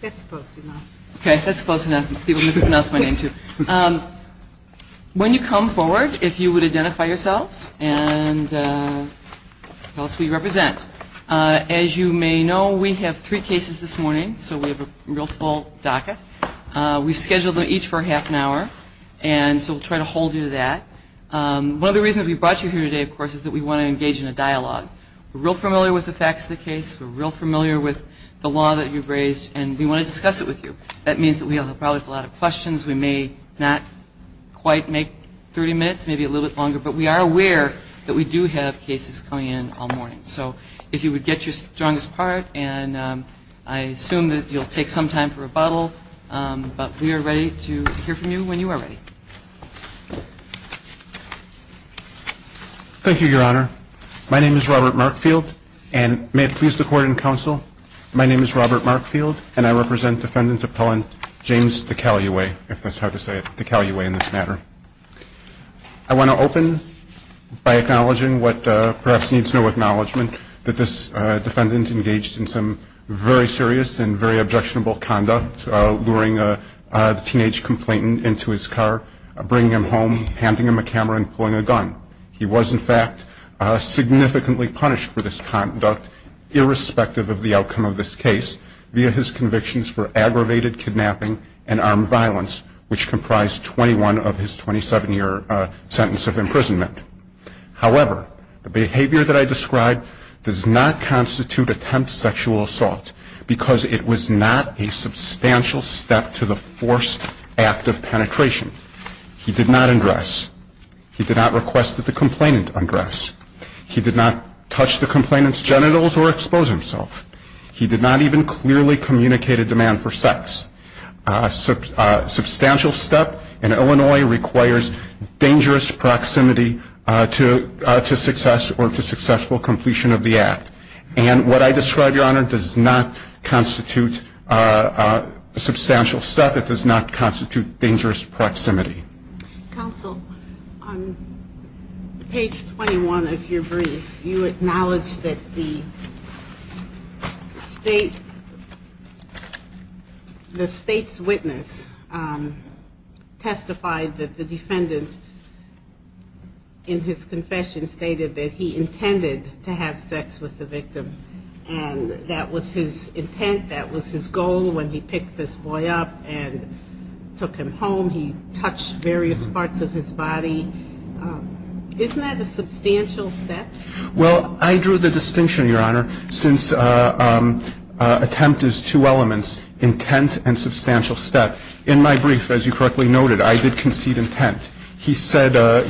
That's close enough. Okay, that's close enough. People mispronounce my name too. When you come forward, if you would identify yourselves and tell us who you represent. As you may know, we have three cases this morning, so we have a real full docket. We've scheduled each for half an hour, and so we'll try to hold you to that. One of the reasons we brought you here today, of course, is that we want to engage in a dialogue. We're real familiar with the facts of the case. We're real familiar with the law that you've raised, and we want to discuss it with you. That means that we have probably a lot of questions. We may not quite make 30 minutes, maybe a little bit longer, but we are aware that we do have cases coming in all morning. So if you would get your strongest part, and I assume that you'll take some time for rebuttal, but we are ready to hear from you when you are ready. Thank you, Your Honor. My name is Robert Markfield, and may it please the Court and Counsel, my name is Robert Markfield, and I represent Defendant Appellant James Decaluwe, if that's how to say it, Decaluwe in this matter. I want to open by acknowledging what perhaps needs no acknowledgment, that this defendant engaged in some very serious and very objectionable conduct, luring a teenage complainant into his car, bringing him home, handing him a camera and pulling a gun. He was, in fact, significantly punished for this conduct, irrespective of the outcome of this case, via his convictions for aggravated kidnapping and armed violence, which comprised 21 of his 27-year sentence of imprisonment. However, the behavior that I described does not constitute attempt sexual assault, because it was not a substantial step to the forced act of penetration. He did not undress. He did not request that the complainant undress. He did not touch the complainant's genitals or expose himself. He did not even clearly communicate a demand for sex. A substantial step in Illinois requires dangerous proximity to success or to successful completion of the act. And what I described, Your Honor, does not constitute a substantial step. It does not constitute dangerous proximity. Counsel, on page 21 of your brief, you acknowledge that the defendant was sexually assaulted and that the state's witness testified that the defendant, in his confession, stated that he intended to have sex with the victim. And that was his intent, that was his goal when he picked this boy up and took him home. He touched various parts of his body. Isn't that a substantial step? Well, I drew the distinction, Your Honor, since attempt is two elements, intent and substantial step. In my brief, as you correctly noted, I did concede intent. He said that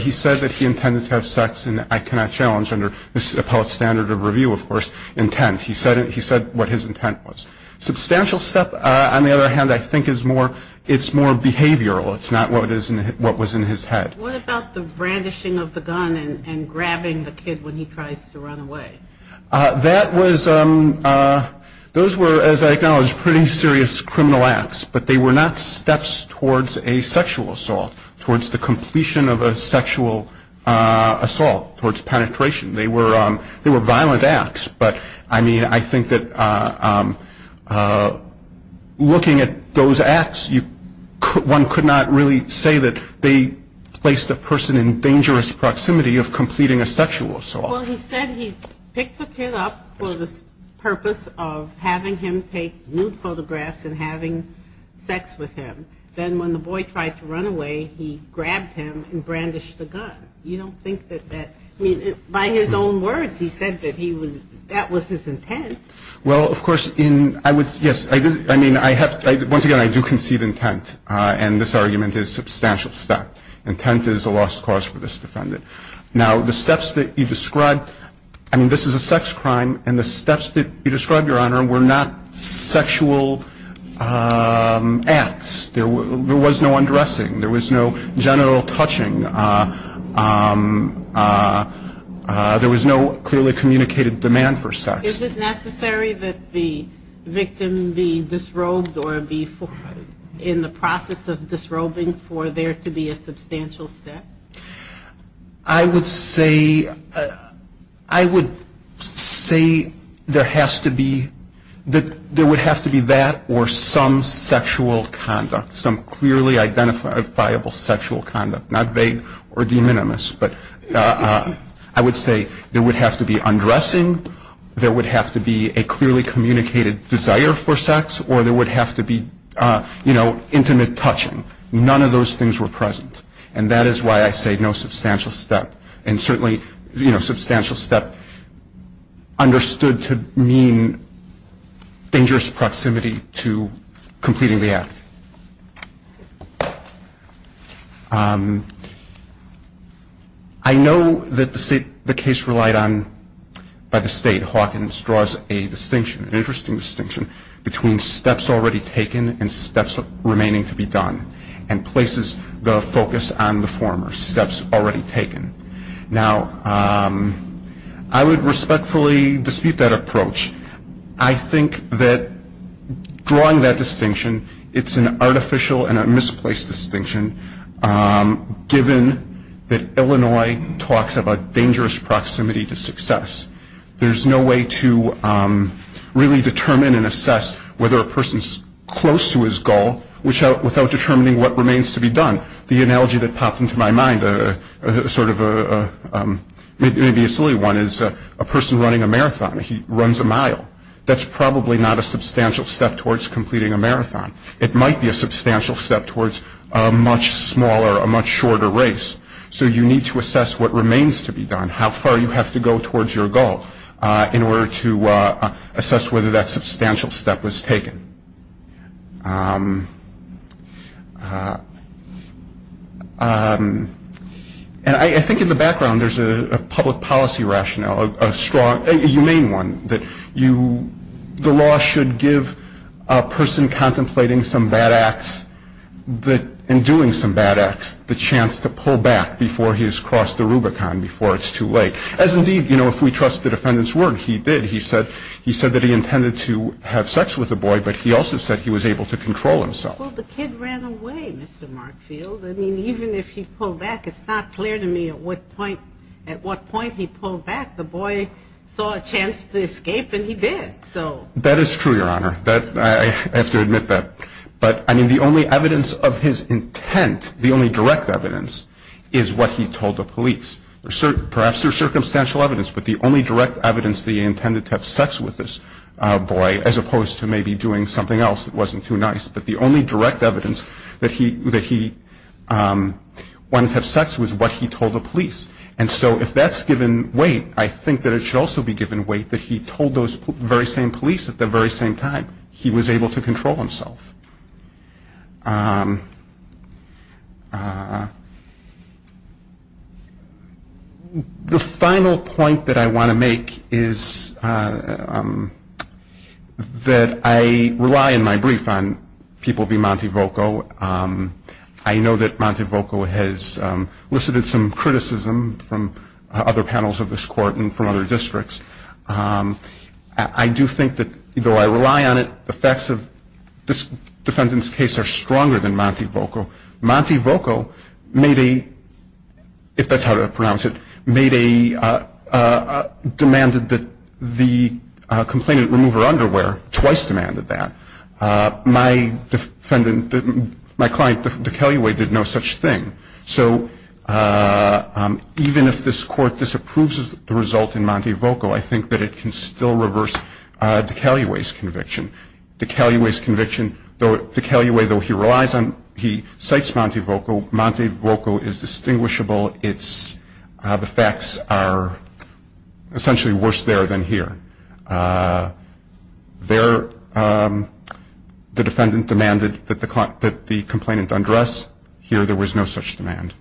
he intended to have sex, and I cannot challenge under this appellate standard of review, of course, intent. He said what his intent was. Substantial step, on the other hand, I think is more behavioral. It's not what was in his head. What about the brandishing of the gun and grabbing the kid when he tries to run away? That was, those were, as I acknowledge, pretty serious criminal acts, but they were not steps towards a sexual assault, towards the completion of a sexual assault, towards penetration. They were violent acts, but I mean, I think that looking at those acts, one could not really say that they placed a person in dangerous proximity of completing a sexual assault. Well, he said he picked the kid up for the purpose of having him take nude photographs and having sex with him. Then when the boy tried to run away, he grabbed him and brandished the gun. You don't think that that, I mean, by his own words, he said that he was, that was his intent. Well, of course, in, I would, yes, I mean, I have, once again, I do concede intent, and this argument is a substantial step. Intent is a lost cause for this defendant. Now, the steps that you described, I mean, this is a sex crime, and the steps that you described, Your Honor, were not sexual acts. There was no undressing. There was no genital touching. There was no clearly communicated demand for sex. Is it necessary that the victim be disrobed or be, in the process of disrobing, for there to be a substantial step? I would say, I would say there has to be, that there would have to be that or some sexual conduct, some clearly identifiable sexual conduct, not vague or de minimis, but I would say there would have to be undressing, there would have to be a clearly communicated desire for sex, or there would have to be, you know, intimate touching. None of those things were present, and that is why I say no substantial step, and certainly, you know, substantial step understood to mean dangerous proximity to completing the act. I know that the case relied on, by the State, Hawkins draws a distinction, an interesting distinction between steps already taken and steps remaining to be done, and places the focus on the former, steps already taken. Now, I would respectfully dispute that approach. I think that drawing that distinction, it's an artificial and a misplaced distinction, given that Illinois talks about dangerous proximity to success. There's no way to really determine and assess whether a person's close to his goal without determining what remains to be done. The analogy that popped into my mind, sort of a, maybe a silly one, is a person running a marathon, he runs a mile. That's probably not a substantial step towards completing a marathon. It might be a substantial step towards a much smaller, a much shorter race. So you need to assess what remains to be done, how far you have to go towards your goal, in order to assess whether that substantial step was taken. And I think in the background, there's a public policy rationale, a strong, a humane one, that you, the law should give a person contemplating some bad acts, in doing some bad acts, the chance to pull back before he's crossed the Rubicon, before it's too late. As indeed, you know, if we trust the defendant's word, he did. He said that he intended to have sex with the boy, but he also said he was able to control himself. Well, the kid ran away, Mr. Markfield. I mean, even if he pulled back, it's not clear to me at what point, at what point he pulled back. The boy saw a chance to escape, and he did. So... That is true, Your Honor. That, I have to admit that. But, I mean, the only evidence of his intent, the only direct evidence, is what he told the police. Perhaps there's circumstantial evidence, but the only direct evidence that he intended to have sex with this boy, as opposed to maybe doing something else that wasn't too nice, but the only direct evidence that he wanted to have sex with was what he told the police. And so, if that's given weight, I think that it should also be given weight that he told those very same police at the very same time. He was able to control himself. The final point that I want to make is that I rely, in my brief, on people v. Montevoco. I know that Montevoco has elicited some criticism from other panels of this Court and from other panels of this Court, but I do think that Montevoco, if that's how to pronounce it, made a, demanded that the complainant remove her underwear, twice demanded that. My defendant, my client, DeCalliway, did no such thing. So, even if this Court disapproves of the result in Montevoco, I think that it can still reverse DeCalliway's conviction. DeCalliway's conviction, though it's not in Montevoco's case, is in Montevoco's case. So, DeCalliway, though he relies on, he cites Montevoco, Montevoco is distinguishable. It's, the facts are essentially worse there than here. There, the defendant demanded that the complainant undress. Here, there was no such demand.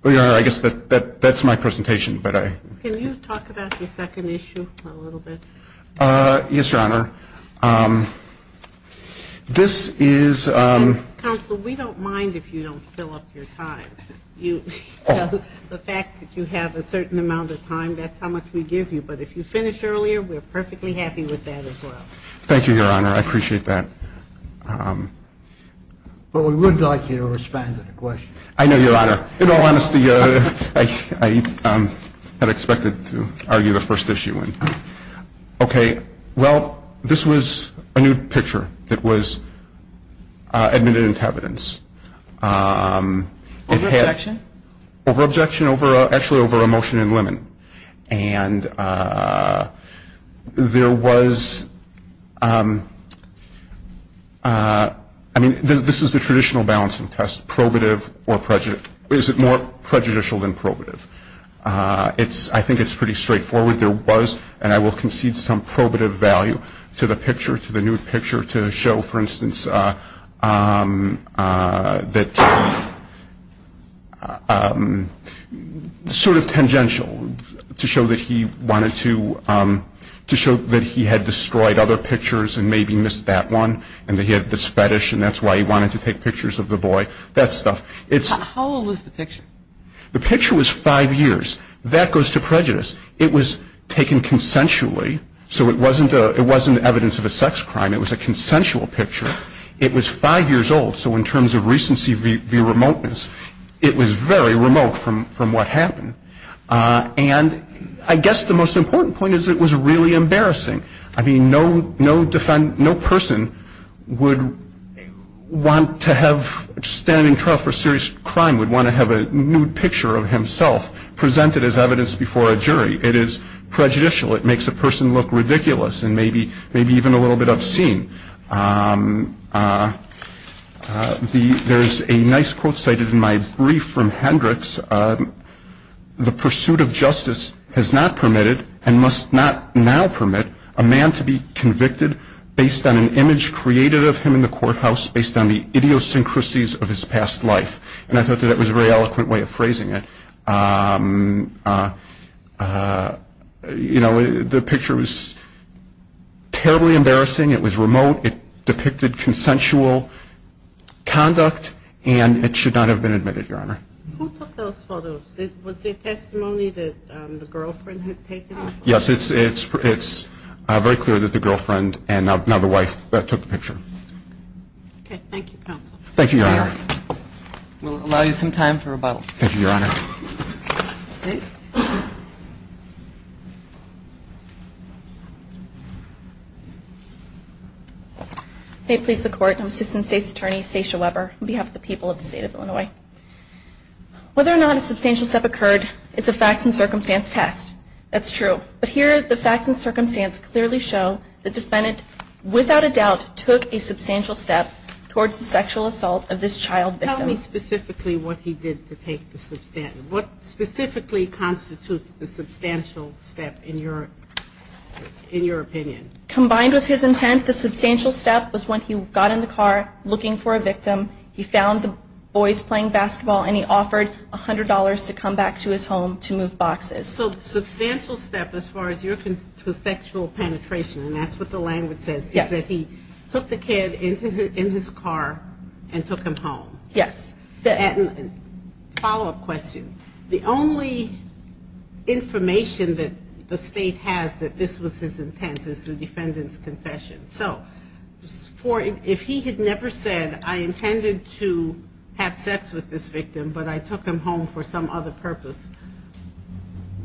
Well, Your Honor, I guess that, that's my presentation, but I. Can you talk about your second issue a little bit? Yes, Your Honor. This is. Counsel, we don't mind if you don't fill up your time. The fact that you have a certain amount of time, that's how much we give you. But if you finish earlier, we're perfectly happy with that as well. Thank you, Your Honor. I appreciate that. But we would like you to respond to the question. I know, Your Honor, I had expected to argue the first issue. Okay, well, this was a new picture that was admitted into evidence. Over objection? Over objection, actually over a motion in limit. And there was, I mean, this is the traditional balancing test, probative or prejudicial. Is it more prejudicial than probative? It's, I think it's pretty straightforward. There was, and I will concede some probative value to the picture, to the new picture to show, for instance, that sort of tangential to show that he wanted to, to show that he had destroyed other pictures and maybe missed that one and that he had this fetish and that's why he wanted to take pictures of the boy, that stuff. How old was the picture? The picture was five years. That goes to prejudice. It was taken consensually. So it wasn't evidence of a sex crime. It was a consensual picture. It was five years old. So in terms of recency via remoteness, it was very remote from what happened. And I guess the most important point is it was really embarrassing. I mean, no person would want to have, standing trial for serious crime would want to have a nude picture of himself presented as evidence before a jury. It is prejudicial. It makes a person look ridiculous and maybe, maybe even a little bit obscene. There's a nice quote cited in my brief from Hendricks. The pursuit of justice has not permitted and must not now permit a man to be convicted based on an image created of him in the courthouse, based on the idiosyncrasies of his past life. And I thought that that was a very eloquent way of phrasing it. You know, the picture was terribly embarrassing. It was remote. It depicted consensual conduct and it should not have been admitted, Your Honor. Who took those photos? Was there testimony that the girlfriend had taken them? Yes, it's very clear that the girlfriend and now the wife took the picture. Okay. Thank you, counsel. Thank you, Your Honor. We'll allow you some time for rebuttal. Thank you, Your Honor. May it please the Court, I'm Assistant State's Attorney Stacia Weber on behalf of the people of the State of Illinois. Whether or not a substantial step occurred is a facts and circumstance test. That's true. But here the facts and circumstance clearly show the defendant without a doubt took a substantial step towards the sexual assault of this child victim. Tell me specifically what he did to take the substantial. What specifically constitutes the substantial step in your opinion? Combined with his intent, the substantial step was when he got in the car looking for a victim. He found the boys playing basketball and he offered $100 to come back to his home to move boxes. So the substantial step as far as your sexual penetration, and that's what the language says, is that he took the kid in his car and took him home. Yes. Follow-up question. The only information that the State has that this was his intent is the defendant's confession. So if he had never said, I intended to have sex with this victim, but I took him home for some other purpose,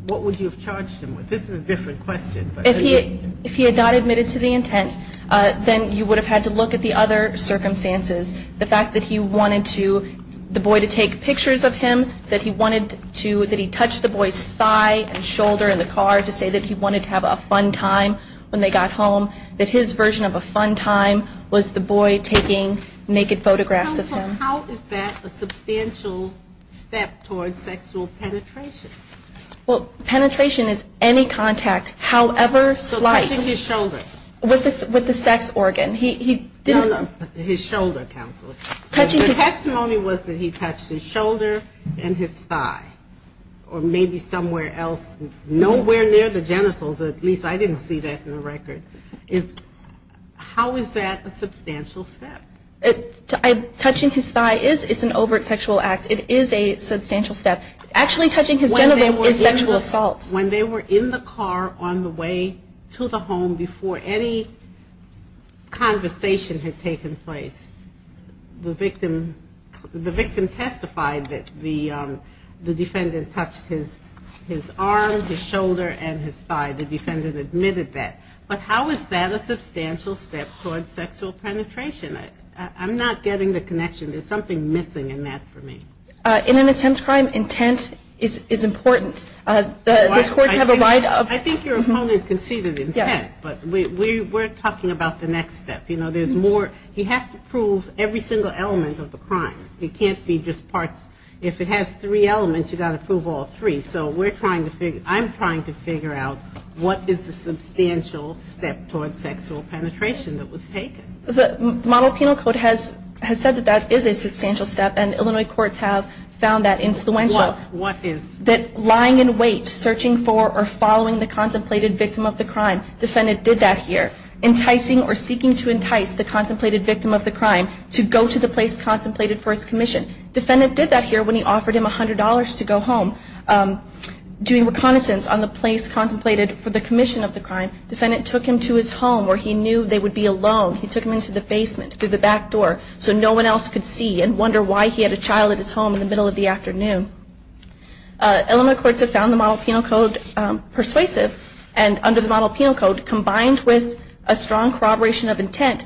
what would you have charged him with? This is a different question. If he had not admitted to the intent, then you would have had to look at the other circumstances. The fact that he wanted the boy to take pictures of him, that he touched the boy's thigh and shoulder in the car to say that he wanted to have a fun time when they got home, that his version of a fun time was the boy taking naked photographs of him. Counsel, how is that a substantial step towards sexual penetration? Well, penetration is any contact, however slight. So touching his shoulder. With the sex organ. His shoulder, counsel. The testimony was that he touched his shoulder and his thigh. Or maybe somewhere else, nowhere near the genitals, at least I didn't see that in the record. How is that a substantial step? Touching his thigh is an overt sexual act. It is a substantial step. Actually touching his genitals is sexual assault. When they were in the car on the way to the home before any conversation had taken place, the victim testified that the defendant touched his arm, his shoulder, and his thigh. The defendant admitted that. But how is that a substantial step towards sexual penetration? I'm not getting the connection. There's something missing in that for me. In an attempt crime, intent is important. I think your opponent conceded intent, but we're talking about the next step. You have to prove every single element of the crime. It can't be just parts. If it has three elements, you've got to prove all three. So I'm trying to figure out what is the substantial step towards sexual penetration that was taken. The model penal code has said that that is a substantial step, and Illinois courts have found that influential. What is? That lying in wait, searching for or following the contemplated victim of the crime. Defendant did that here. Enticing or seeking to entice the contemplated victim of the crime to go to the place contemplated for the commission of the crime. Defendant took him to his home where he knew they would be alone. He took him into the basement through the back door so no one else could see and wonder why he had a child at his home in the middle of the afternoon. Illinois courts have found the model penal code persuasive and under the model penal code combined with a strong corroboration of intent,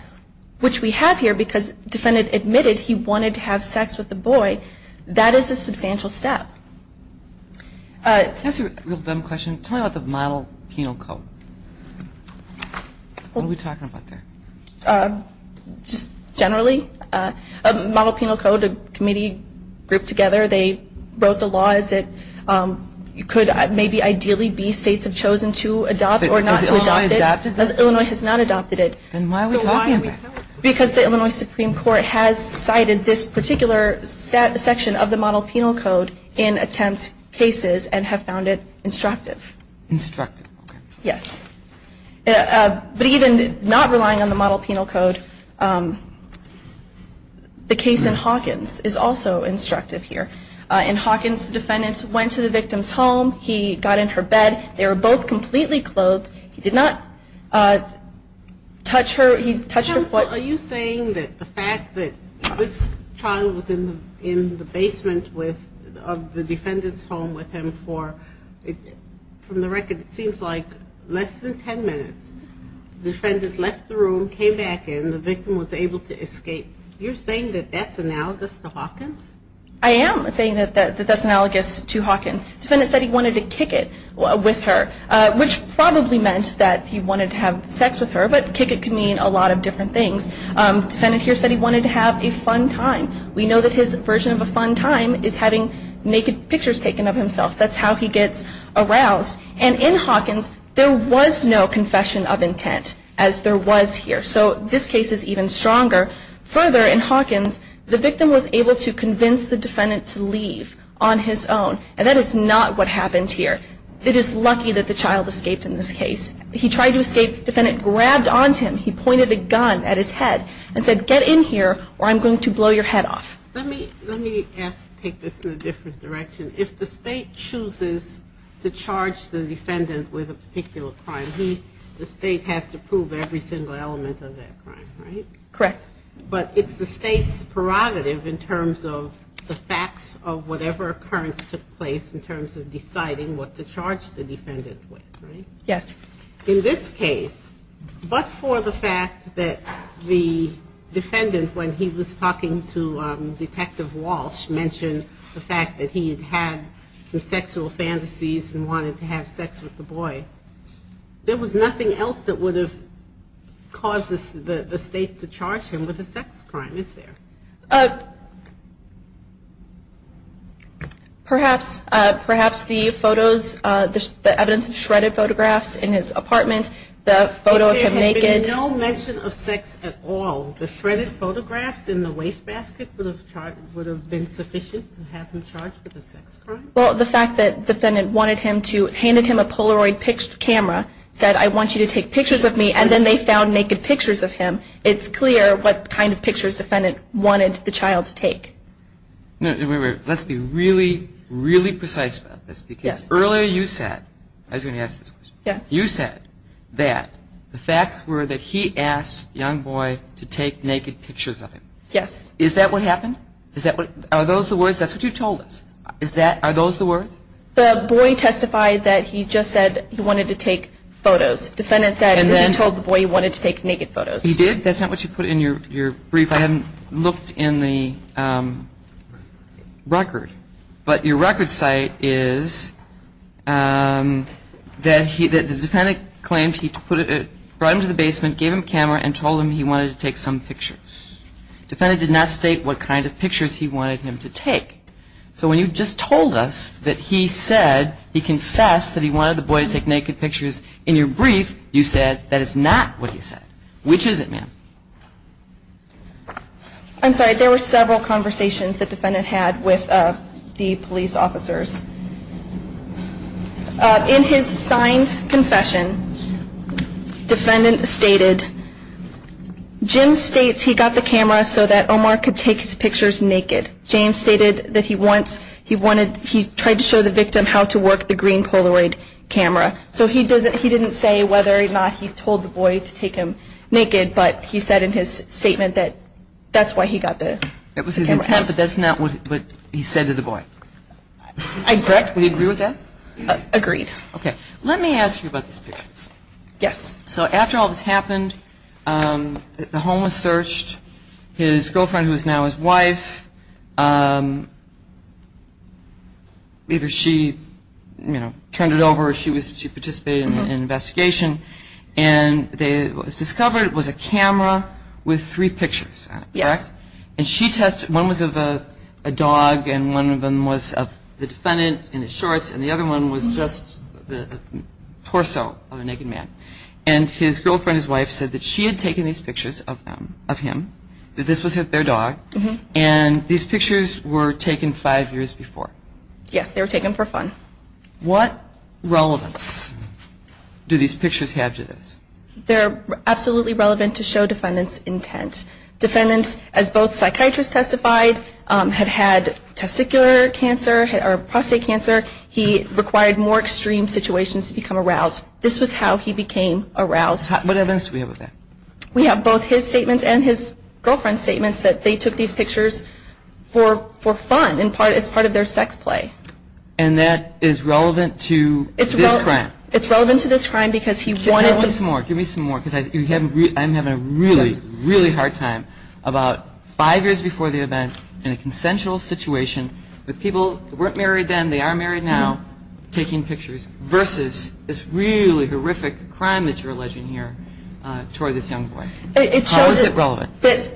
which we have here because defendant admitted he wanted to have sex with the boy. That is a substantial step. That's a real dumb question. Tell me about the model penal code. What are we talking about there? Just generally. Model penal code, a committee grouped together. They wrote the law as it could maybe ideally be states have chosen to adopt or not to adopt it. Illinois has not adopted it. Why are we talking about that? Because the Illinois Supreme Court has cited this particular section of the model penal code in attempt cases and have found it instructive. Instructive. Yes. But even not relying on the model penal code, the case in Hawkins is also instructive here. The defendant went to the victim's home. He got in her bed. They were both completely clothed. He did not touch her. Are you saying that the fact that this child was in the basement of the defendant's home with him for, from the record, it seems like less than 10 minutes. The defendant left the room, came back in. The victim was able to escape. You're saying that that's analogous to Hawkins? I am saying that that's analogous to Hawkins. Defendant said he wanted to kick it with her, which probably meant that he wanted to have sex with her, but kick it could mean a lot of different things. Defendant here said he wanted to have a fun time. We know that his version of a fun time is having naked pictures taken of himself. That's how he gets aroused. And in Hawkins, there was no confession of intent, as there was here. So this case is even stronger. Further, in Hawkins, the victim was able to convince the defendant to leave on his own, and that is not what happened here. It is lucky that the child escaped in this case. He tried to escape. Defendant grabbed onto him. He pointed a gun at his head and said, get in here or I'm going to blow your head off. Let me take this in a different direction. If the state chooses to charge the defendant with a particular crime, the state has to prove every single element of that crime, right? Correct. But it's the state's prerogative in terms of the facts of whatever occurrence took place in terms of deciding what to charge the defendant with, right? Yes. In this case, but for the fact that the defendant, when he was talking to Detective Walsh, mentioned the fact that he had had some sexual fantasies and wanted to have sex with the boy, there was nothing else that would have caused the state to charge him with a sex crime, is there? Perhaps the photos, the evidence of shredded photographs in his apartment, the photo of him naked. If there had been no mention of sex at all, the shredded photographs in the wastebasket would have been sufficient to have him charged with a sex crime? Well, the fact that the defendant handed him a Polaroid camera, said, I want you to take pictures of me, and then they found naked pictures of him. It's clear what kind of pictures the defendant wanted the child to take. Let's be really, really precise about this, because earlier you said, I was going to ask this question. You said that the facts were that he asked the young boy to take naked pictures of him. Yes. Is that what happened? Are those the words? That's what you told us. Are those the words? The boy testified that he just said he wanted to take photos. Defendant said he told the boy he wanted to take naked photos. He did? That's not what you put in your brief. I haven't looked in the record. But your record cite is that the defendant claimed he brought him to the basement, gave him a camera, and told him he wanted to take some pictures. Defendant did not state what kind of pictures he wanted him to take. So when you just told us that he said he confessed that he wanted the boy to take naked pictures in your brief, you said that is not what you said. Which is it, ma'am? I'm sorry. There were several conversations the defendant had with the police officers. In his signed confession, defendant stated, Jim states he took naked pictures of him. He got the camera so that Omar could take his pictures naked. James stated that he tried to show the victim how to work the green Polaroid camera. So he didn't say whether or not he told the boy to take him naked. But he said in his statement that that's why he got the camera. It was his intent, but that's not what he said to the boy. I agree with that. Agreed. Okay. Let me ask you about these pictures. Yes. So after all this happened, the homeless searched, his girlfriend who is now his wife, either she, you know, turned it over or she participated in an investigation, and what was discovered was a camera with three pictures on it, correct? Yes. And she tested, one was of a dog and one of them was of the defendant in his shorts, and the other one was just the torso of a naked man. And his girlfriend, his wife, said that she had taken these pictures of him, that this was their dog, and these pictures were taken five years before. Yes. They were taken for fun. What relevance do these pictures have to this? They're absolutely relevant to show defendant's intent. Defendant, as both psychiatrists testified, had had testicular cancer or prostate cancer. He required more extreme situations to become aroused. This was how he became aroused. What other evidence do we have of that? We have both his statements and his girlfriend's statements that they took these pictures for fun, as part of their sex play. And that is relevant to this crime? It's relevant to this crime because he wanted to... Give me some more because I'm having a really, really hard time. It shows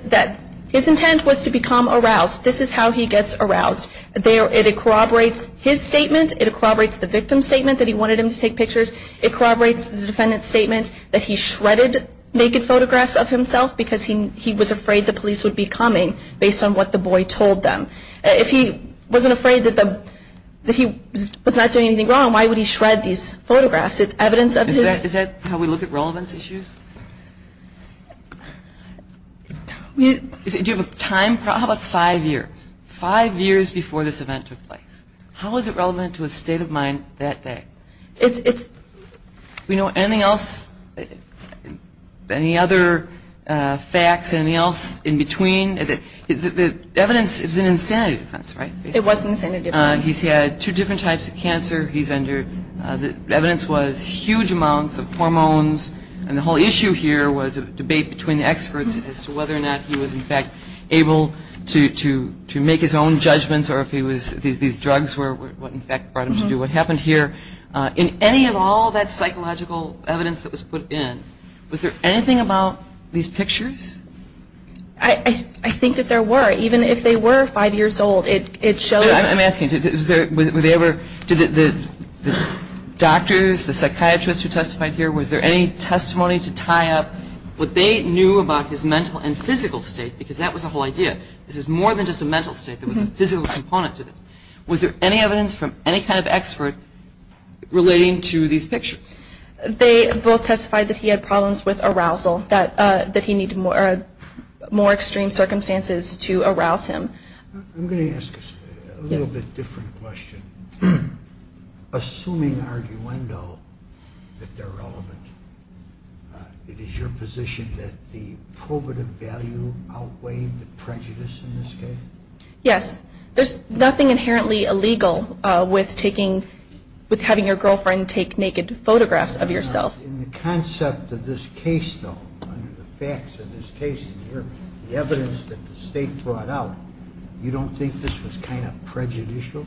that his intent was to become aroused. This is how he gets aroused. It corroborates his statement. It corroborates the victim's statement that he wanted him to take pictures. It corroborates the defendant's statement that he shredded naked photographs of himself because he was afraid the police would be coming based on what the boy told them. If he wasn't afraid that he was not doing anything wrong, why would he shred these photographs? It's evidence of his... Do you have a time? How about five years? Five years before this event took place. How is it relevant to his state of mind that day? Anything else? Any other facts, anything else in between? The evidence is an insanity defense, right? It was an insanity defense. He's had two different types of cancer. The evidence was huge amounts of hormones, and the whole issue here was a debate between the experts as to whether or not he was in fact able to make his own judgments or if these drugs were what in fact brought him to do what happened here. In any of all that psychological evidence that was put in, was there anything about these pictures? I think that there were. Even if they were five years old, it shows... I'm asking, did the doctors, the psychiatrists who testified here, was there any testimony to tie up what they knew about his mental and physical state? Because that was the whole idea. This is more than just a mental state. There was a physical component to this. Was there any evidence from any kind of expert relating to these pictures? They both testified that he had problems with arousal, that he needed more extreme circumstances to arouse him. I'm going to ask a little bit different question. Assuming arguendo that they're relevant, it is your position that the probative value outweighed the prejudice in this case? Yes. There's nothing inherently illegal with having your girlfriend take naked photographs of yourself. In the concept of this case, though, under the facts of this case, the evidence that the state brought out, you don't think this was kind of prejudicial?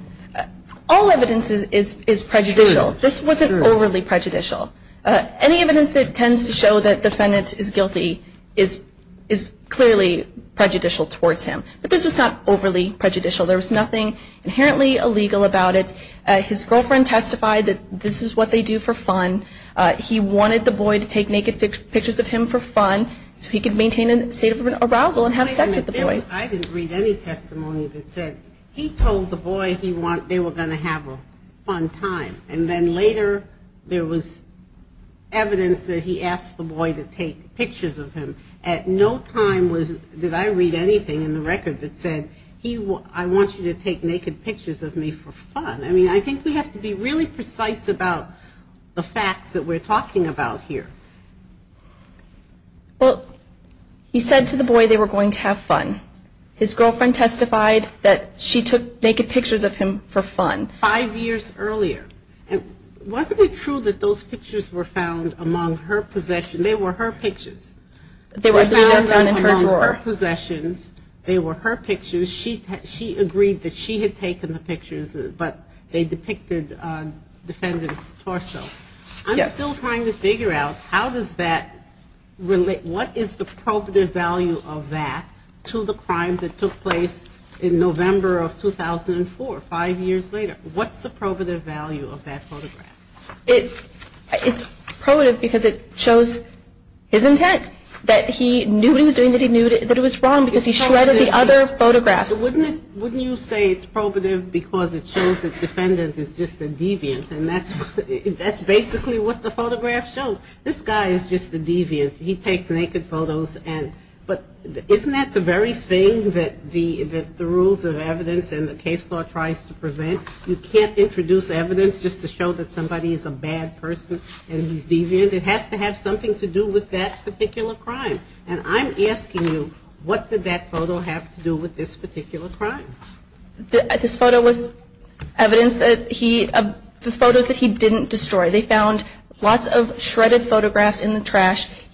All evidence is prejudicial. This wasn't overly prejudicial. Any evidence that tends to show that the defendant is guilty is clearly prejudicial towards him. But this was not overly prejudicial. There was nothing inherently illegal about it. His girlfriend testified that this is what they do for fun. He wanted the boy to take naked pictures of him for fun so he could maintain a state of arousal and have sex with the boy. I didn't read any testimony that said he told the boy they were going to have a fun time. And then later there was evidence that he asked the boy to take pictures of him. At no time did I read anything in the record that said I want you to take naked pictures of me for fun. I mean, I think we have to be really precise about the facts that we're talking about here. Well, he said to the boy they were going to have fun. His girlfriend testified that she took naked pictures of him for fun. Five years earlier. And wasn't it true that those pictures were found among her possessions? They were her pictures. She agreed that she had taken the pictures, but they depicted the defendant's torso. I'm still trying to figure out how does that relate, what is the probative value of that to the crime that took place in November of 2004, five years later? What's the probative value of that photograph? It's probative because it shows his intent. That he knew what he was doing, that he knew that it was wrong because he shredded the other photographs. Wouldn't you say it's probative because it shows the defendant is just a deviant? And that's basically what the photograph shows. This guy is just a deviant. He takes naked photos. But isn't that the very thing that the rules of evidence and the case law tries to prevent? You can't introduce evidence just to show that somebody is a bad person and he's deviant. It has to have something to do with that particular crime. And I'm asking you, what did that photo have to do with this particular crime? This photo was evidence that he, the photos that he didn't destroy.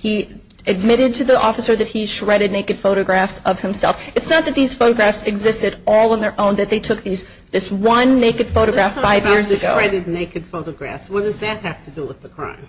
He admitted to the officer that he shredded naked photographs of himself. It's not that these photographs existed all on their own, that they took this one naked photograph five years ago. Let's talk about the shredded naked photographs. What does that have to do with the crime?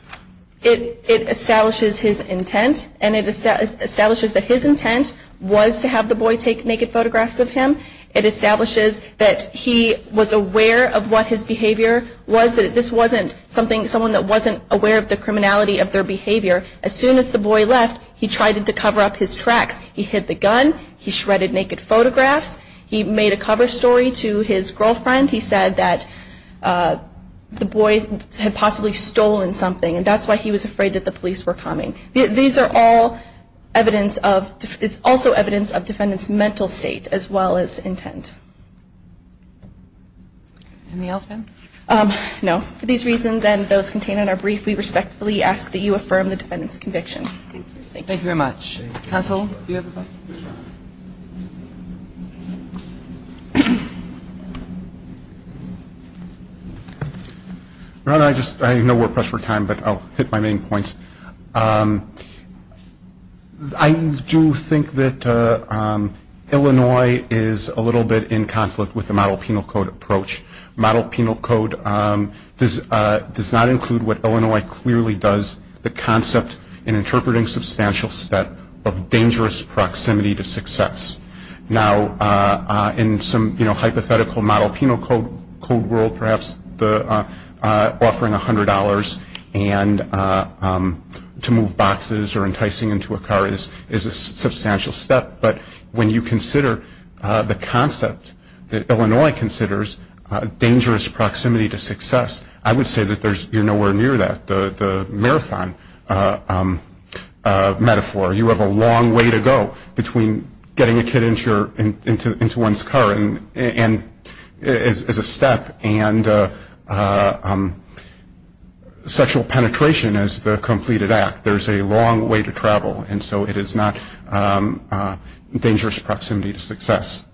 It establishes his intent and it establishes that his intent was to have the boy take naked photographs of him. It establishes that he was aware of what his behavior was. This wasn't someone that wasn't aware of the criminality of their behavior. As soon as the boy left, he tried to cover up his tracks. He hid the gun. He shredded naked photographs. He made a cover story to his girlfriend. He said that the boy had possibly stolen something and that's why he was afraid that the police were coming. These are all evidence of, it's also evidence of defendant's mental state as well as intent. Anything else, ma'am? No. For these reasons and those contained in our brief, we respectfully ask that you affirm the defendant's conviction. Thank you very much. Counsel, do you have a question? I know we're pressed for time, but I'll hit my main points. I do think that Illinois is a little bit in conflict with the model penal code approach. Model penal code does not include what Illinois clearly does, the concept in interpreting substantial theft of dangerous proximity to success. Now, in some hypothetical model penal code world, perhaps offering $100 and to move boxes or enticing into a car is a substantial step, but when you consider the concept that Illinois considers dangerous proximity to success, I would say that you're nowhere near that, the marathon metaphor. You have a long way to go between getting a kid into one's car as a step and sexual penetration as the completed act. There's a long way to travel, and so it is not dangerous proximity to success.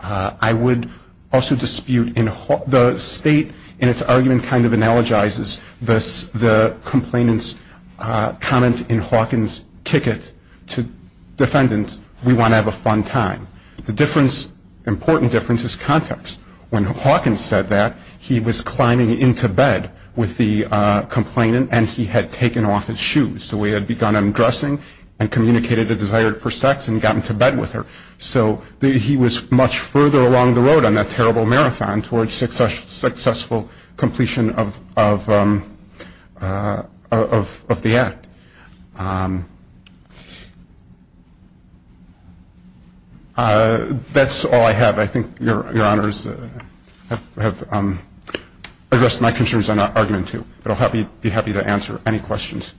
I would also dispute, the state in its argument kind of analogizes the complainant's comment in Hawkins' ticket to defendants, we want to have a fun time. The important difference is context. When Hawkins said that, he was climbing into bed with the complainant and he had taken off his shoes. So he had begun undressing and communicated a desire for sex and gotten to bed with her. So he was much further along the road on that terrible marathon towards successful completion of the act. That's all I have. I think Your Honors have addressed my concerns on argument two, but I'll be happy to answer any questions.